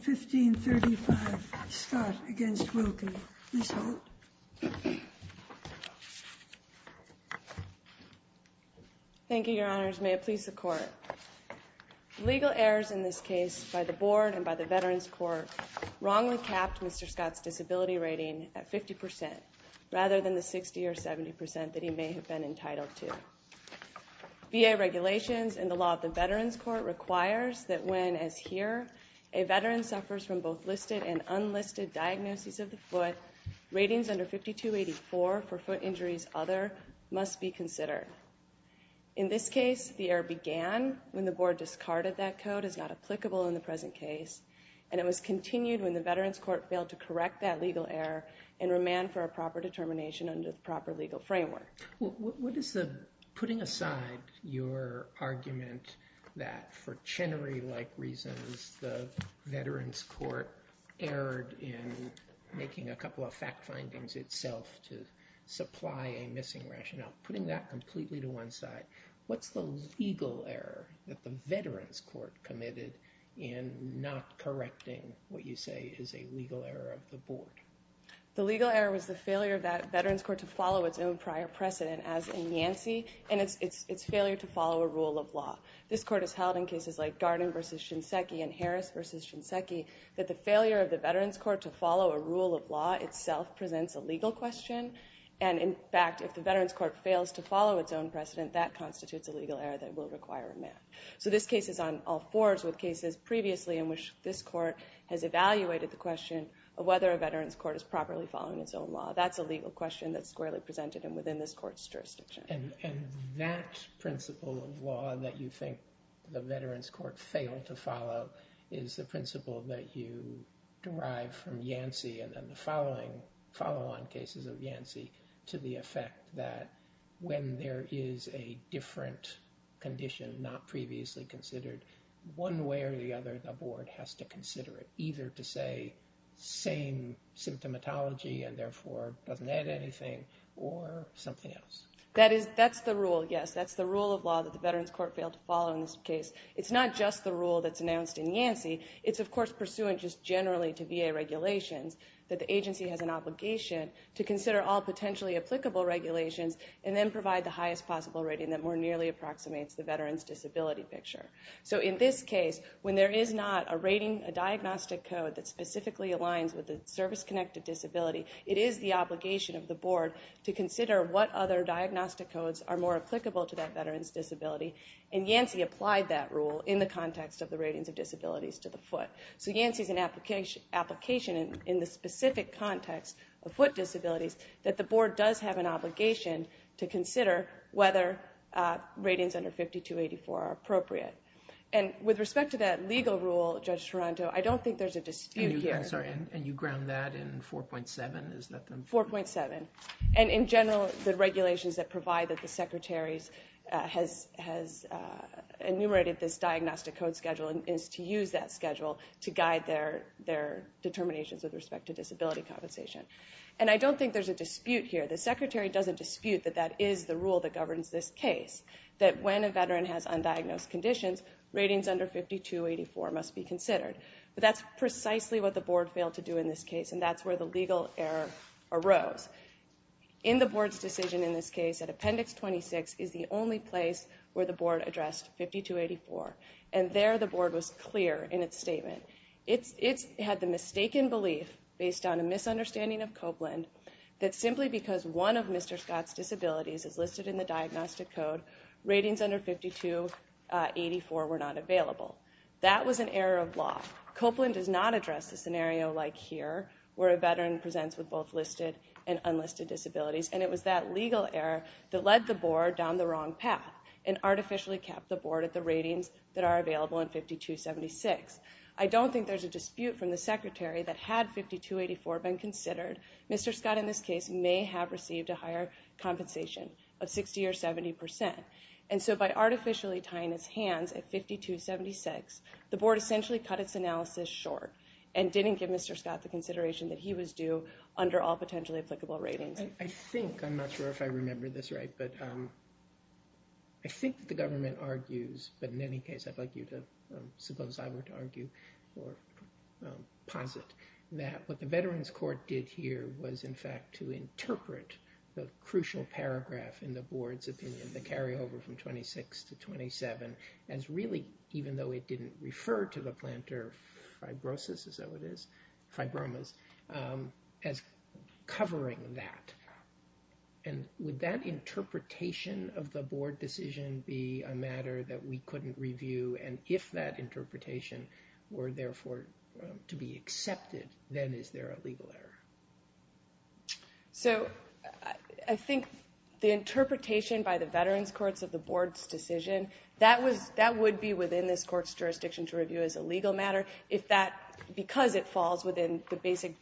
v. Scott v. Wilkie. Ms. Holt. Thank you, your honors. May it please the court. Legal errors in this case by the board and by the Veterans Court wrongly capped Mr. Scott's disability rating at 50% rather than the 60 or 70% that he may have been entitled to. VA regulations and the law of the Veterans Court requires that when, as here, a veteran suffers from both listed and unlisted diagnoses of the foot, ratings under 5284 for foot injuries other must be considered. In this case, the error began when the board discarded that code as not applicable in the present case, and it was continued when the Veterans Court failed to correct that legal error and remand for a proper determination under the proper legal framework. What is the, putting aside your argument that for Chenery-like reasons, the Veterans Court erred in making a couple of fact findings itself to supply a missing rationale, putting that completely to one side, what's the legal error that the Veterans Court committed in not correcting what you say is a legal error of the board? The legal error was the failure of that Veterans Court to follow its own prior precedent, as in Yancey, and its failure to follow a rule of law. This court has held in cases like Garden v. Shinseki and Harris v. Shinseki that the failure of the Veterans Court to follow a rule of law itself presents a legal question, and in fact, if the Veterans Court fails to follow its own precedent, that constitutes a legal error that will require a remand. So this case is on all fours with cases previously in which this court has evaluated the question of whether a Veterans Court is properly following its own law. That's a legal question that's squarely presented and within this court's jurisdiction. And that principle of law that you think the Veterans Court failed to follow is the principle that you derive from Yancey and then the following follow-on cases of Yancey to the effect that when there is a different condition not previously considered, one way or the other, the board has to consider it, either to say same symptomatology and therefore doesn't add anything or something else. That's the rule, yes, that's the rule of law that the Veterans Court failed to follow in this case. It's not just the rule that's announced in Yancey, it's of course pursuant just generally to VA regulations that the agency has an obligation to consider all potentially applicable regulations and then provide the highest possible rating that more nearly approximates the veteran's disability picture. So in this case, when there is not a rating, a diagnostic code that specifically aligns with the service-connected disability, it is the obligation of the board to consider what other diagnostic codes are more applicable to that veteran's disability and Yancey applied that rule in the context of the ratings of disabilities to the foot. So Yancey is an application in the specific context of foot disabilities that the board does have an obligation to consider whether ratings under 5284 are appropriate. And with respect to that legal rule, Judge Toronto, I don't think there's a dispute here. And you ground that in 4.7? 4.7. And in general, the regulations that provide that the secretaries has enumerated this diagnostic code schedule is to use that schedule to guide their determinations with respect to disability compensation. And I don't think there's a dispute here. The secretary doesn't dispute that that is the rule that governs this case. That when a veteran has undiagnosed conditions, ratings under 5284 must be considered. But that's precisely what the board failed to do in this case and that's where the legal error arose. In the board's decision in this case at appendix 26 is the only place where the board addressed 5284. And there the board was clear in its statement. It had the mistaken belief based on a misunderstanding of Copeland that simply because one of Mr. Scott's disabilities is listed in the diagnostic code, ratings under 5284 were not available. That was an error of law. Copeland does not address the scenario like here where a veteran presents with both listed and unlisted disabilities. And it was that legal error that led the board down the wrong path and artificially kept the board at the ratings that are available in 5276. I don't think there's a dispute from the secretary that had 5284 been considered, Mr. Scott in this case may have received a higher compensation of 60 or 70 percent. And so by artificially tying his hands at 5276, the board essentially cut its analysis short and didn't give Mr. Scott the consideration that he was due under all potentially applicable ratings. I think, I'm not sure if I remember this right, but I think the government argues, but in any case, I'd like you to suppose I were to argue or posit that what the Veterans Court did here was in fact to interpret the crucial paragraph in the board's opinion, the carryover from 26 to 27 as really, even though it didn't refer to the plantar fibrosis as it is, fibromas, as covering that. And would that interpretation of the board decision be a matter that we couldn't review? And if that interpretation were therefore to be accepted, then is there a legal error? So I think the interpretation by the Veterans Courts of the board's decision, that would be within this court's jurisdiction to review as a legal matter if that, because it falls within the basic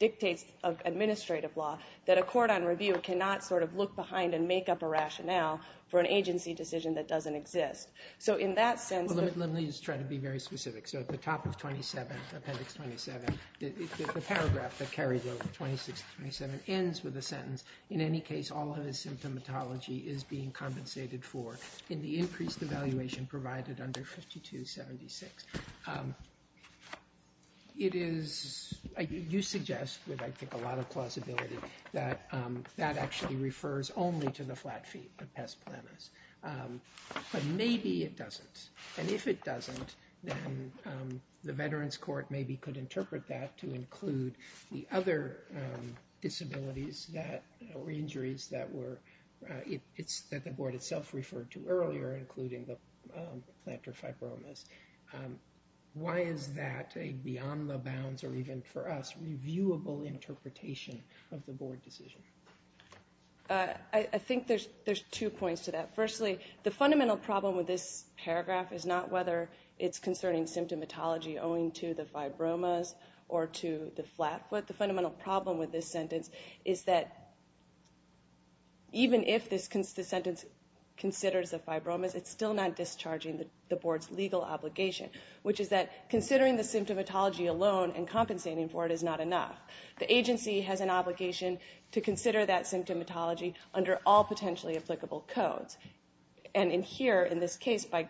dictates of administrative law, that a court on review cannot sort of look behind and make up a rationale for an agency decision that doesn't exist. So in that sense... Well, let me just try to be very specific. So at the top of 27, Appendix 27, the paragraph that carried over from 26 to 27 ends with a sentence, in any case, all of his symptomatology is being compensated for in the increased evaluation provided under 5276. It is, you suggest, with I think a lot of plausibility, that that actually refers only to the flat feet of Pest Planus. But maybe it doesn't. And if it doesn't, then the Veterans Court maybe could interpret that to include the other disabilities that, or injuries that were, that the board itself referred to earlier, including the plantar fibromas. Why is that a beyond the bounds, or even for us, reviewable interpretation of the board decision? I think there's two points to that. Firstly, the fundamental problem with this paragraph is not whether it's concerning symptomatology owing to the fibromas or to the flat foot. The fundamental problem with this sentence is that even if this sentence considers the fibromas, it's still not discharging the board's legal obligation, which is that considering the symptomatology alone and compensating for it is not enough. The agency has an obligation to consider that symptomatology under all potentially applicable codes. And in here, in this case, by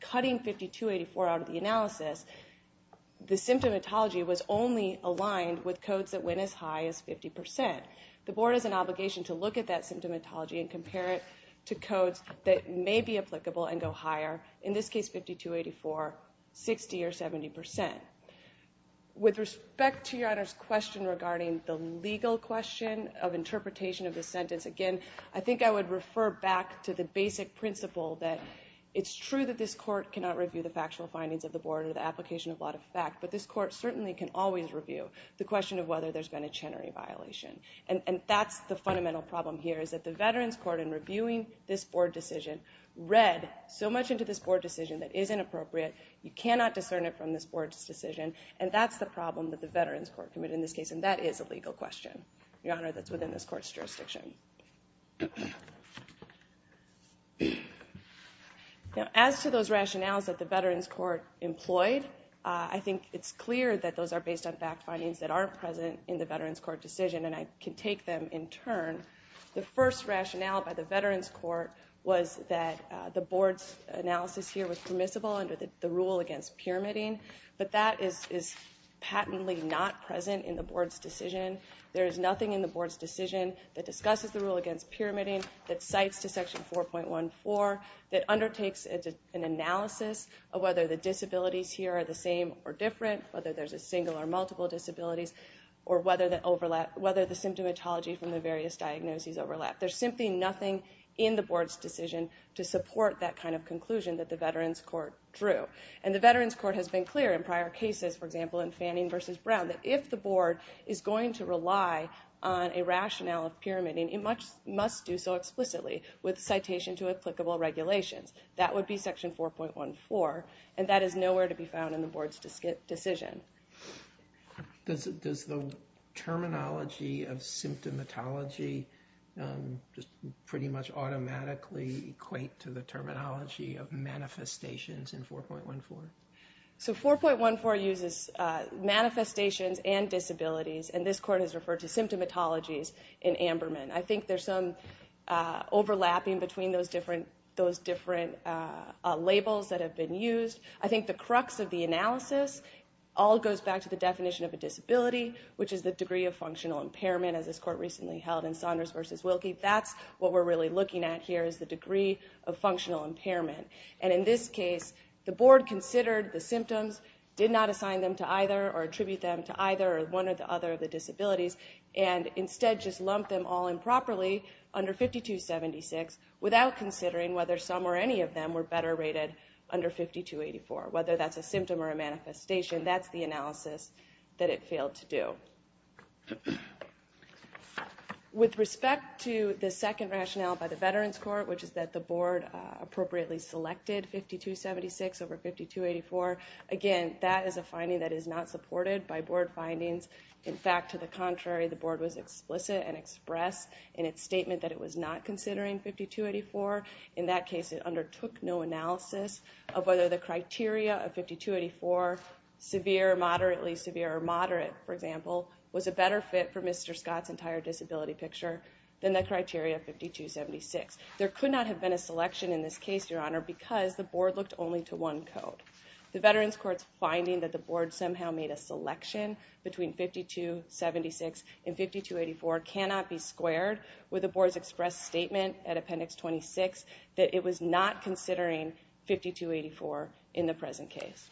cutting 5284 out of the analysis, the symptomatology was only aligned with codes that went as high as 50%. The board has an obligation to look at that symptomatology and compare it to codes that may be applicable and go higher, in this case 5284, 60% or 70%. With respect to Your Honor's question regarding the legal question of interpretation of the sentence, again, I think I would refer back to the basic principle that it's true that this court cannot review the factual findings of the board or the application of a lot of fact, but this court certainly can always review the question of whether there's been a Chenery violation. And that's the fundamental problem here, is that the Veterans Court, in reviewing this board decision, read so much into this board decision that is inappropriate. You cannot discern it from this board's decision, and that's the problem that the Veterans Court committed in this case, and that is a legal question, Your Honor, that's within this court's jurisdiction. Now, as to those rationales that the Veterans Court employed, I think it's clear that those are based on fact findings that aren't present in the Veterans Court decision, and I can take them in turn. The first rationale by the Veterans Court was that the board's analysis here was permissible under the rule against pyramiding, but that is patently not present in the board's decision. There is nothing in the board's decision that discusses the rule against pyramiding, that cites to Section 4.14, that undertakes an analysis of whether the disabilities here are the same or different, whether there's a single or multiple disabilities, or whether the symptomatology from the various diagnoses overlap. There's simply nothing in the board's decision to support that kind of conclusion that the Veterans Court drew, and the Veterans Court has been clear in prior cases, for example, in Fanning v. Brown, that if the board is going to rely on a rationale of pyramiding, it must do so explicitly with citation to applicable regulations. That would be Section 4.14, and that is nowhere to be found in the board's decision. Does the terminology of symptomatology pretty much automatically equate to the terminology of manifestations in 4.14? So 4.14 uses manifestations and disabilities, and this court has referred to symptomatologies in Amberman. I think there's some overlapping between those different labels that have been used. I think the crux of the analysis all goes back to the definition of a disability, which is the degree of functional impairment, as this court recently held in Saunders v. Wilkie. That's what we're really looking at here is the degree of functional impairment. And in this case, the board considered the symptoms, did not assign them to either or attribute them to either or one or the other of the disabilities, and instead just lumped them all in properly under 5276 without considering whether some or any of them were better rated under 5284. Whether that's a symptom or a manifestation, that's the analysis that it failed to do. With respect to the second rationale by the Veterans Court, which is that the board appropriately selected 5276 over 5284, again, that is a finding that is not supported by board findings. In fact, to the contrary, the board was explicit and expressed in its statement that it was not considering 5284. In that case, it undertook no analysis of whether the criteria of 5284, severe, moderately severe, or moderate, for example, was a better fit for Mr. Scott's entire disability picture than the criteria of 5276. There could not have been a selection in this case, Your Honor, because the board looked only to one code. The Veterans Court's finding that the board somehow made a selection between 5276 and 5284 cannot be squared with the board's expressed statement at Appendix 26 that it was not considering 5284 in the present case.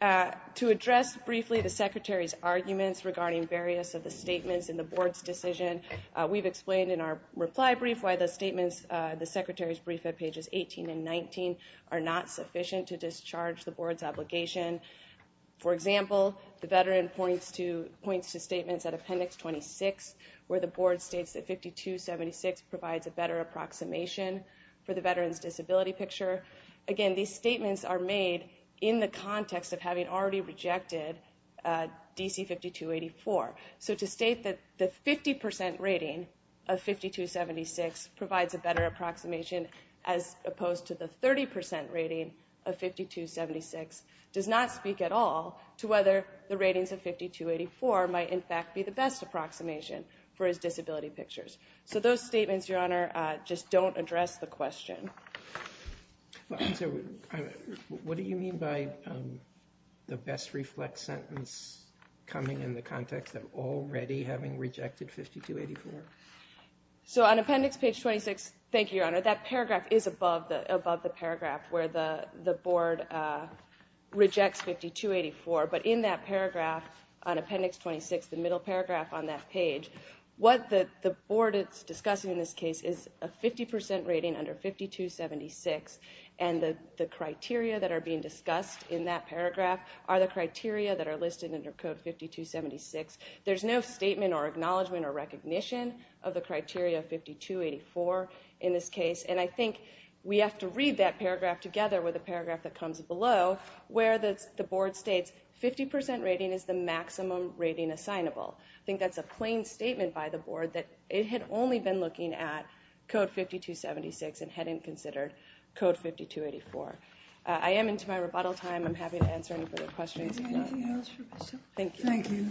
To address briefly the Secretary's arguments regarding various of the statements in the board's decision, we've explained in our reply brief why the Secretary's brief at pages 18 and 19 are not sufficient to discharge the board's obligation. For example, the veteran points to statements at Appendix 26 where the board states that 5276 provides a better approximation for the veteran's disability picture. Again, these statements are made in the context of having already rejected DC 5284. So to state that the 50% rating of 5276 provides a better approximation as opposed to the 30% rating of 5276 does not speak at all to whether the ratings of 5284 might in fact be the best approximation for his disability pictures. So those statements, Your Honor, just don't address the question. What do you mean by the best reflex sentence coming in the context of already having rejected 5284? So on Appendix 26, thank you, Your Honor, that paragraph is above the paragraph where the board rejects 5284. But in that paragraph on Appendix 26, the middle paragraph on that page, what the board is discussing in this case is a 50% rating under 5276. And the criteria that are being discussed in that paragraph are the criteria that are listed under Code 5276. There's no statement or acknowledgement or recognition of the criteria of 5284 in this case. And I think we have to read that paragraph together with a paragraph that comes below where the board states 50% rating is the maximum rating assignable. I think that's a plain statement by the board that it had only been looking at Code 5276 and hadn't considered Code 5284. I am into my rebuttal time. I'm happy to answer any further questions. Thank you.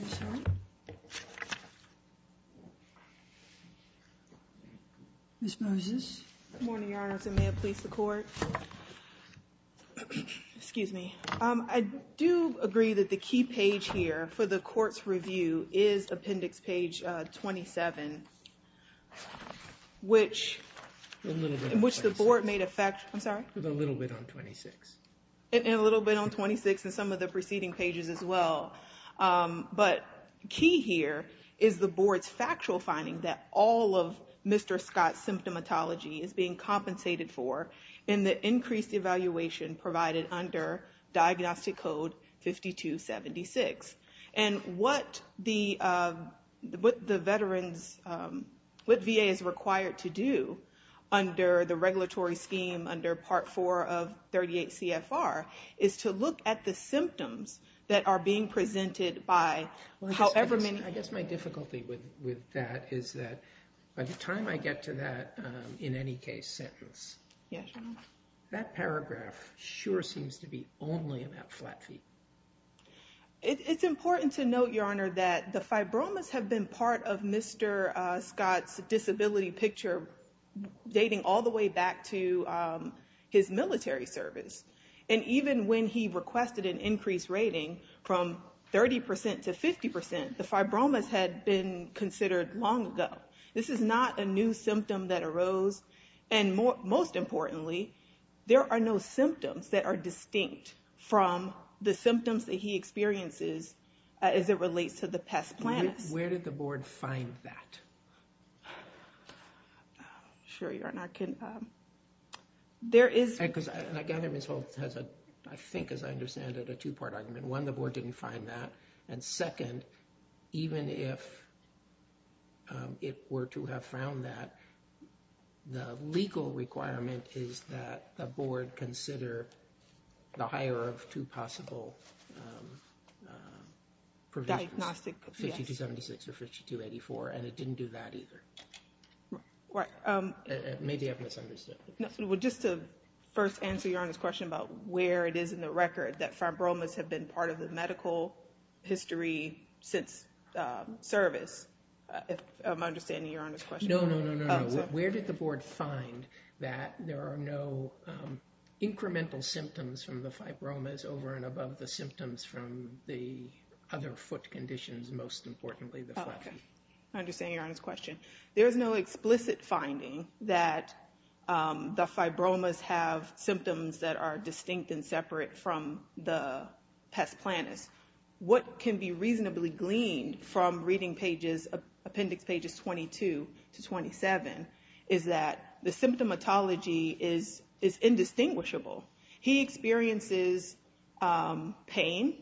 Ms. Moses. Good morning, Your Honor. May it please the court. Excuse me. I do agree that the key page here for the court's review is Appendix Page 27, which the board made a fact, I'm sorry? A little bit on 26. And a little bit on 26 and some of the preceding pages as well. But key here is the board's factual finding that all of Mr. Scott's symptomatology is being compensated for in the increased evaluation provided under Diagnostic Code 5276. And what the veterans, what VA is required to do under the regulatory scheme under Part 4 of 38 CFR is to look at the symptoms that are being presented by however many... I guess my difficulty with that is that by the time I get to that in any case sentence, that paragraph sure seems to be only about flat feet. It's important to note, Your Honor, that the fibromas have been part of Mr. Scott's disability picture dating all the way back to his military service. And even when he requested an increased rating from 30% to 50%, the fibromas had been considered long ago. This is not a new symptom that arose. And most importantly, there are no symptoms that are distinct from the symptoms that he experiences as it relates to the pest plant. Where did the board find that? Sure, Your Honor, I can... There is... And I gather Ms. Holt has a, I think as I understand it, a two-part argument. One, the board didn't find that. And second, even if it were to have found that, the legal requirement is that the board consider the higher of two possible... Diagnostic... 5276 or 5284. And it didn't do that either. Right. Maybe I've misunderstood. Well, just to first answer Your Honor's question about where it is in the record that fibromas have been part of the medical history since service, if I'm understanding Your Honor's question. No, no, no, no, no. Where did the board find that there are no incremental symptoms from the fibromas over and above the symptoms from the other foot conditions, most importantly the flat feet? I understand Your Honor's question. There is no explicit finding that the fibromas have symptoms that are distinct and separate from the pest planus. What can be reasonably gleaned from reading appendix pages 22 to 27 is that the symptomatology is indistinguishable. He experiences pain,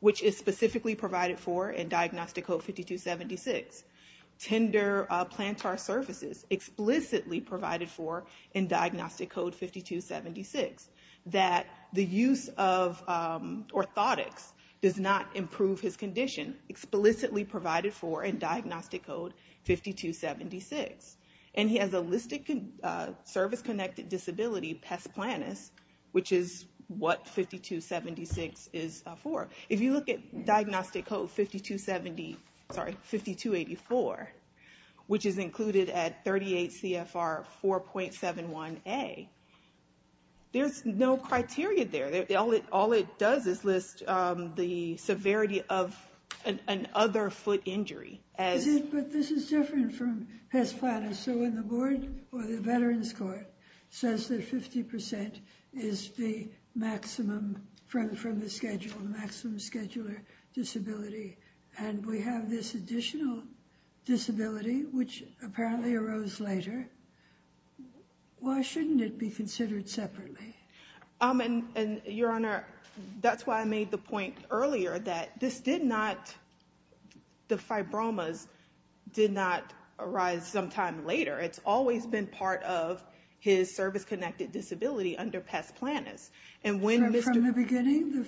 which is specifically provided for in Diagnostic Code 5276. Tender plantar surfaces explicitly provided for in Diagnostic Code 5276. That the use of orthotics does not improve his condition, explicitly provided for in Diagnostic Code 5276. And he has a listed service-connected disability, pest planus, which is what 5276 is for. If you look at Diagnostic Code 5284, which is included at 38 CFR 4.71a, there's no criteria there. All it does is list the severity of another foot injury. But this is different from pest planus. So when the board or the Veterans Court says that 50% is the maximum from the schedule, the maximum scheduler disability, and we have this additional disability, which apparently arose later, why shouldn't it be considered separately? Your Honor, that's why I made the point earlier that the fibromas did not arise sometime later. It's always been part of his service-connected disability under pest planus. From the beginning, the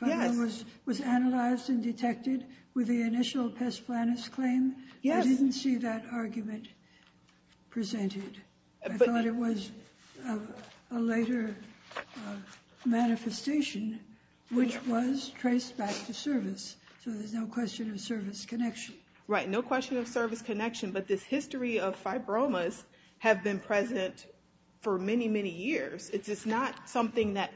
fibroma was analyzed and detected with the initial pest planus claim? Yes. I didn't see that argument presented. I thought it was a later manifestation, which was traced back to service. So there's no question of service connection. Right, no question of service connection. But this history of fibromas have been present for many, many years. It's just not something that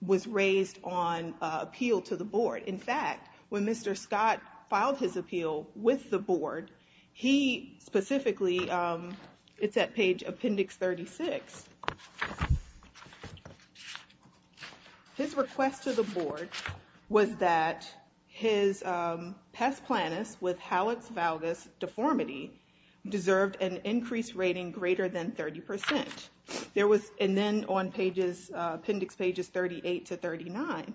was raised on appeal to the board. In fact, when Mr. Scott filed his appeal with the board, he specifically, it's at page Appendix 36. His request to the board was that his pest planus with Howitz-Valgus deformity deserved an increased rating greater than 30%. And then on appendix pages 38 to 39,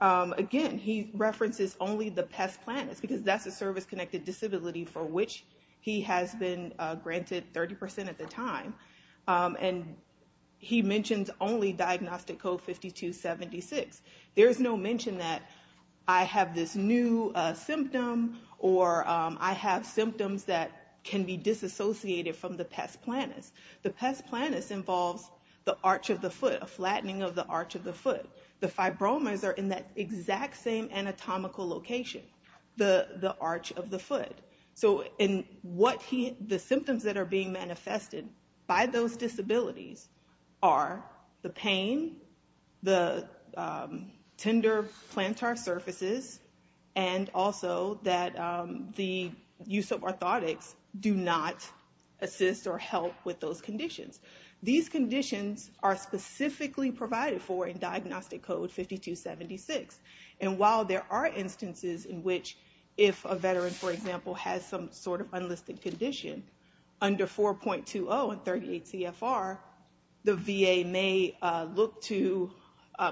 again, he references only the pest planus, because that's a service-connected disability for which he has been granted 30% at the time. And he mentions only diagnostic code 5276. There's no mention that I have this new symptom or I have symptoms that can be disassociated from the pest planus. The pest planus involves the arch of the foot, a flattening of the arch of the foot. The fibromas are in that exact same anatomical location, the arch of the foot. The symptoms that are being manifested by those disabilities are the pain, the tender plantar surfaces, and also that the use of orthotics do not assist or help with those conditions. These conditions are specifically provided for in diagnostic code 5276. And while there are instances in which if a veteran, for example, has some sort of unlisted condition, under 4.20 and 38 CFR, the VA may look to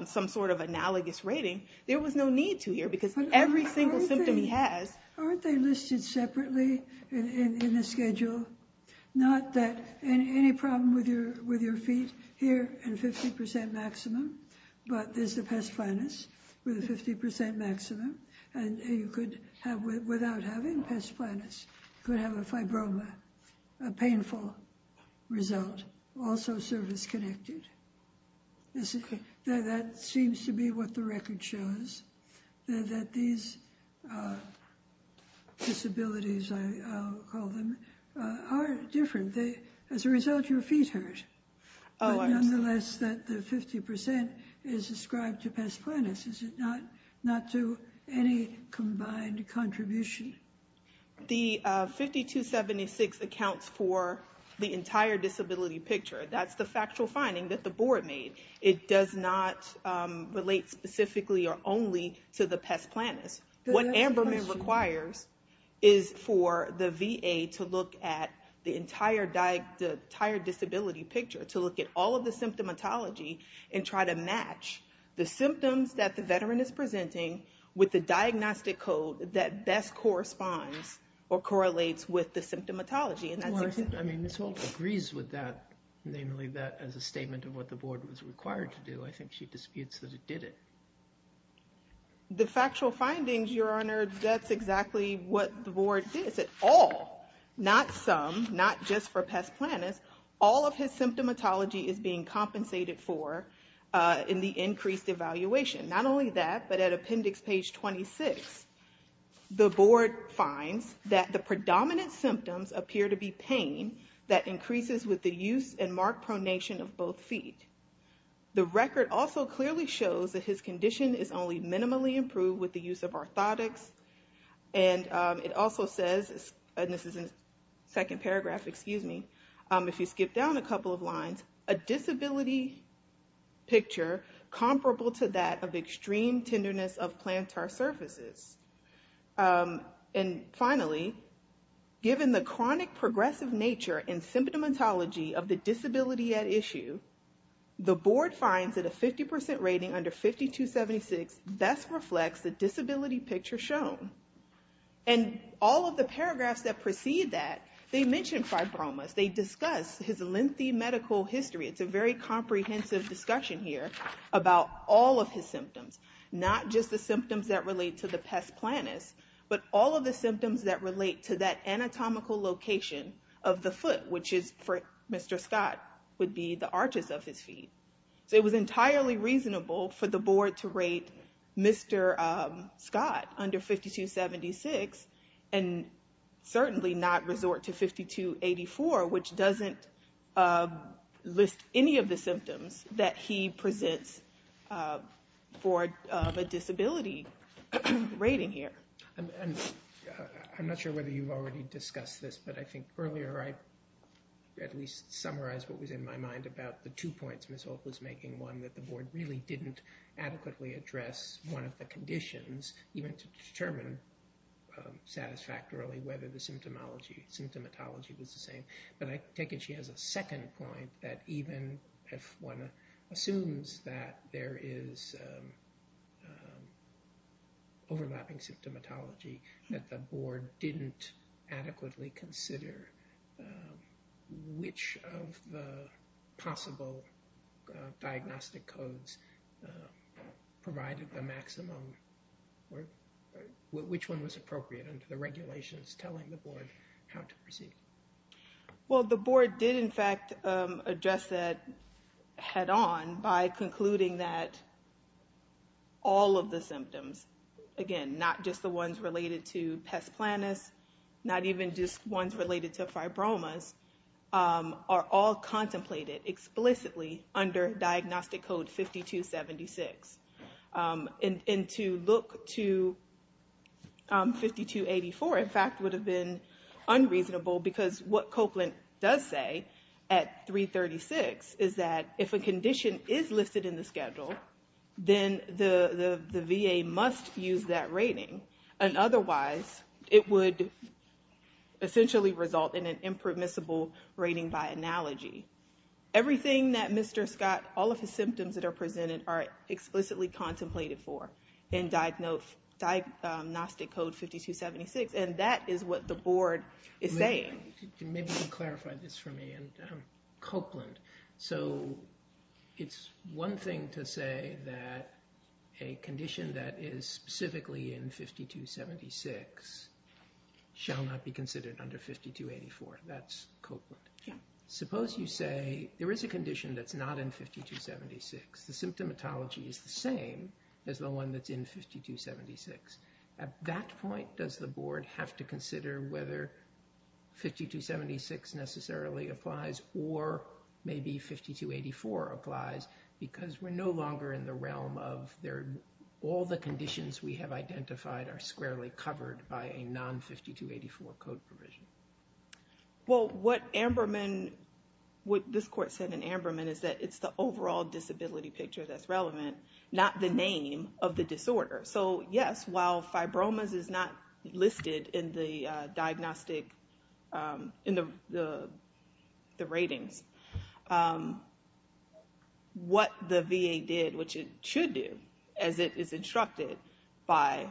some sort of analogous rating. There was no need to here, because every single symptom he has... Aren't they listed separately in the schedule? Not that any problem with your feet here at 50% maximum, but there's the pest planus with a 50% maximum. And you could have, without having pest planus, could have a fibroma, a painful result, also surface-connected. That seems to be what the record shows. That these disabilities, I'll call them, are different. As a result, your feet hurt. But nonetheless, that the 50% is ascribed to pest planus. Is it not to any combined contribution? The 5276 accounts for the entire disability picture. That's the factual finding that the board made. It does not relate specifically or only to the pest planus. What Amberman requires is for the VA to look at the entire disability picture, to look at all of the symptomatology and try to match the symptoms that the veteran is presenting with the diagnostic code that best corresponds or correlates with the symptomatology. I mean, Ms. Holt agrees with that, namely that as a statement of what the board was required to do. I think she disputes that it did it. The factual findings, your honor, that's exactly what the board did. It said all, not some, not just for pest planus. All of his symptomatology is being compensated for in the increased evaluation. Not only that, but at appendix page 26, the board finds that the predominant symptoms appear to be pain that increases with the use and mark pronation of both feet. The record also clearly shows that his condition is only minimally improved with the use of orthotics. And it also says, and this is in the second paragraph, excuse me, if you skip down a couple of lines, a disability picture comparable to that of extreme tenderness of plantar surfaces. And finally, given the chronic progressive nature and symptomatology of the disability at issue, the board finds that a 50% rating under 5276 best reflects the disability picture shown. And all of the paragraphs that precede that, they mention fibromas. They discuss his lengthy medical history. It's a very comprehensive discussion here about all of his symptoms, not just the symptoms that relate to the pest planus, but all of the symptoms that relate to that anatomical location of the foot, which is for Mr. Scott, would be the arches of his feet. So it was entirely reasonable for the board to rate Mr. Scott under 5276 and certainly not resort to 5284, which doesn't list any of the symptoms that he presents for a disability rating here. I'm not sure whether you've already discussed this, but I think earlier I at least summarized what was in my mind about the two points Ms. Holt was making, one that the board really didn't adequately address one of the conditions, even to determine satisfactorily whether the symptomatology was the same. But I take it she has a second point that even if one assumes that there is overlapping symptomatology, that the board didn't adequately consider which of the possible diagnostic codes provided the maximum or which one was appropriate under the regulations telling the board how to proceed. Well, the board did in fact address that head on by concluding that all of the symptoms, again, not just the ones related to pest planus, not even just ones related to fibromas, are all contemplated explicitly under diagnostic code 5276. And to look to 5284 in fact would have been unreasonable because what Copeland does say at 336 is that if a condition is listed in the schedule, then the VA must use that rating. And otherwise, it would essentially result in an impermissible rating by analogy. Everything that Mr. Scott, all of his symptoms that are presented are explicitly contemplated for in diagnostic code 5276. And that is what the board is saying. Maybe you can clarify this for me. And Copeland, so it's one thing to say that a condition that is specifically in 5276 shall not be considered under 5284. That's Copeland. Suppose you say there is a condition that's not in 5276. The symptomatology is the same as the one that's in 5276. At that point, does the board have to consider whether 5276 necessarily applies or maybe 5284 applies because we're no longer in the realm of all the conditions we have identified are squarely covered by a non-5284 code provision. Well, what Amberman, what this court said in Amberman is that it's the overall disability picture that's relevant, not the name of the disorder. So, yes, while fibromas is not listed in the diagnostic, in the ratings, what the VA did, which it should do, as it is instructed by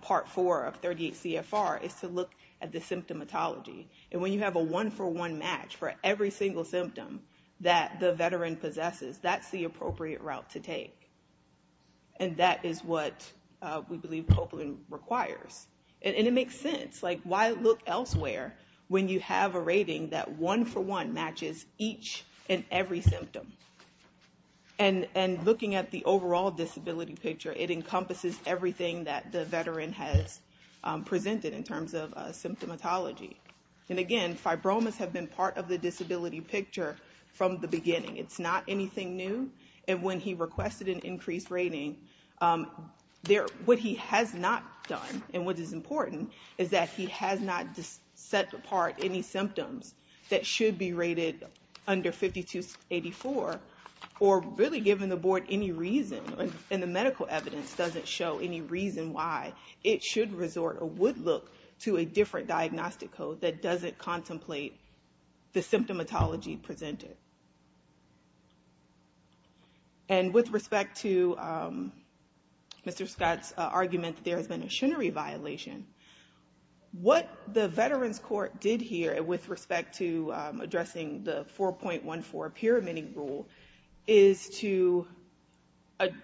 Part 4 of 38 CFR, is to look at the symptomatology. And when you have a one-for-one match for every single symptom that the veteran possesses, that's the appropriate route to take. And that is what we believe Copeland requires. And it makes sense. Like, why look elsewhere when you have a rating that one-for-one matches each and every symptom? And looking at the overall disability picture, it encompasses everything that the veteran has presented in terms of symptomatology. And, again, fibromas have been part of the disability picture from the beginning. It's not anything new. And when he requested an increased rating, what he has not done, and what is important, is that he has not set apart any symptoms that should be rated under 5284, or really given the board any reason, and the medical evidence doesn't show any reason why, it should resort or would look to a different diagnostic code that doesn't contemplate the symptomatology presented. And with respect to Mr. Scott's argument that there has been a shunnery violation, what the Veterans Court did here with respect to addressing the 4.14 pyramid rule is to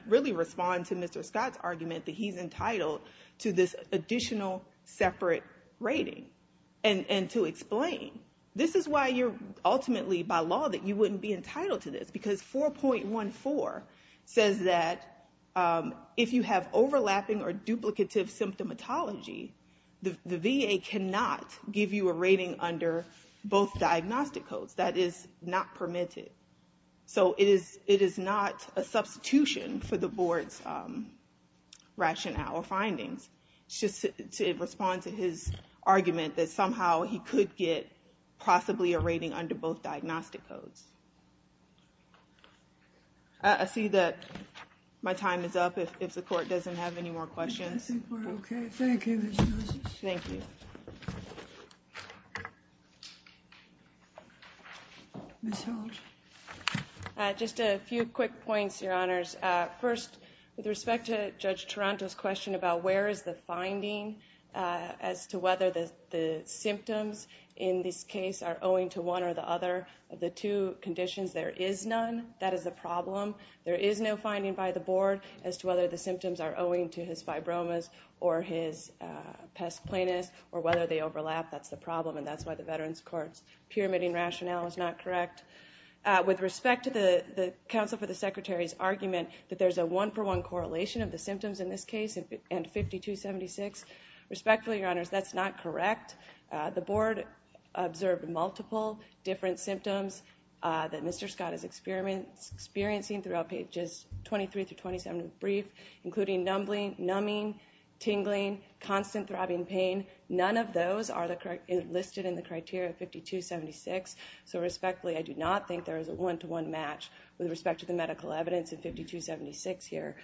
really respond to Mr. Scott's argument that he's entitled to this additional separate rating, and to explain. This is why you're ultimately, by law, that you wouldn't be entitled to this, because 4.14 says that if you have overlapping or duplicative symptomatology, the VA cannot give you a rating under both diagnostic codes. That is not permitted. So it is not a substitution for the board's rationale or findings. It's just to respond to his argument that somehow he could get possibly a rating under both diagnostic codes. I see that my time is up, if the court doesn't have any more questions. I think we're okay. Thank you, Ms. Moses. Thank you. Ms. Holt. Just a few quick points, Your Honors. First, with respect to Judge Taranto's question about where is the finding as to whether the symptoms in this case are owing to one or the other of the two conditions, there is none. That is the problem. There is no finding by the board as to whether the symptoms are owing to his fibromas or his pes planus, or whether they overlap. That's the problem, and that's why the Veterans Court's pyramiding rationale is not correct. With respect to the counsel for the Secretary's argument that there's a one-for-one correlation of the symptoms in this case and 5276, respectfully, Your Honors, that's not correct. The board observed multiple different symptoms that Mr. Scott is experiencing throughout pages 23 through 27 of the brief, including numbing, tingling, constant throbbing pain. None of those are listed in the criteria of 5276, so respectfully, I do not think there is a one-to-one match with respect to the medical evidence in 5276 here.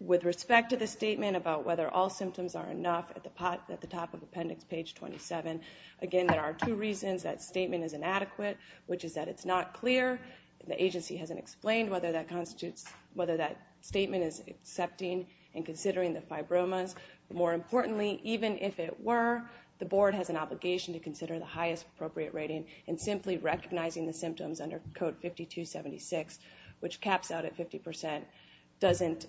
With respect to the statement about whether all symptoms are enough at the top of appendix page 27, again, there are two reasons that statement is inadequate, which is that it's not clear. The agency hasn't explained whether that statement is accepting and considering the fibromas. More importantly, even if it were, the board has an obligation to consider the highest appropriate rating and simply recognizing the symptoms under code 5276, which caps out at 50%, doesn't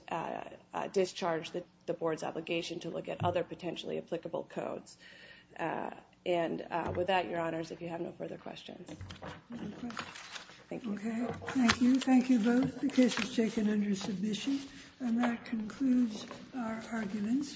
discharge the board's obligation to look at other potentially applicable codes. And with that, Your Honors, if you have no further questions. Thank you. Okay, thank you. Thank you both. The case is taken under submission. And that concludes our arguments.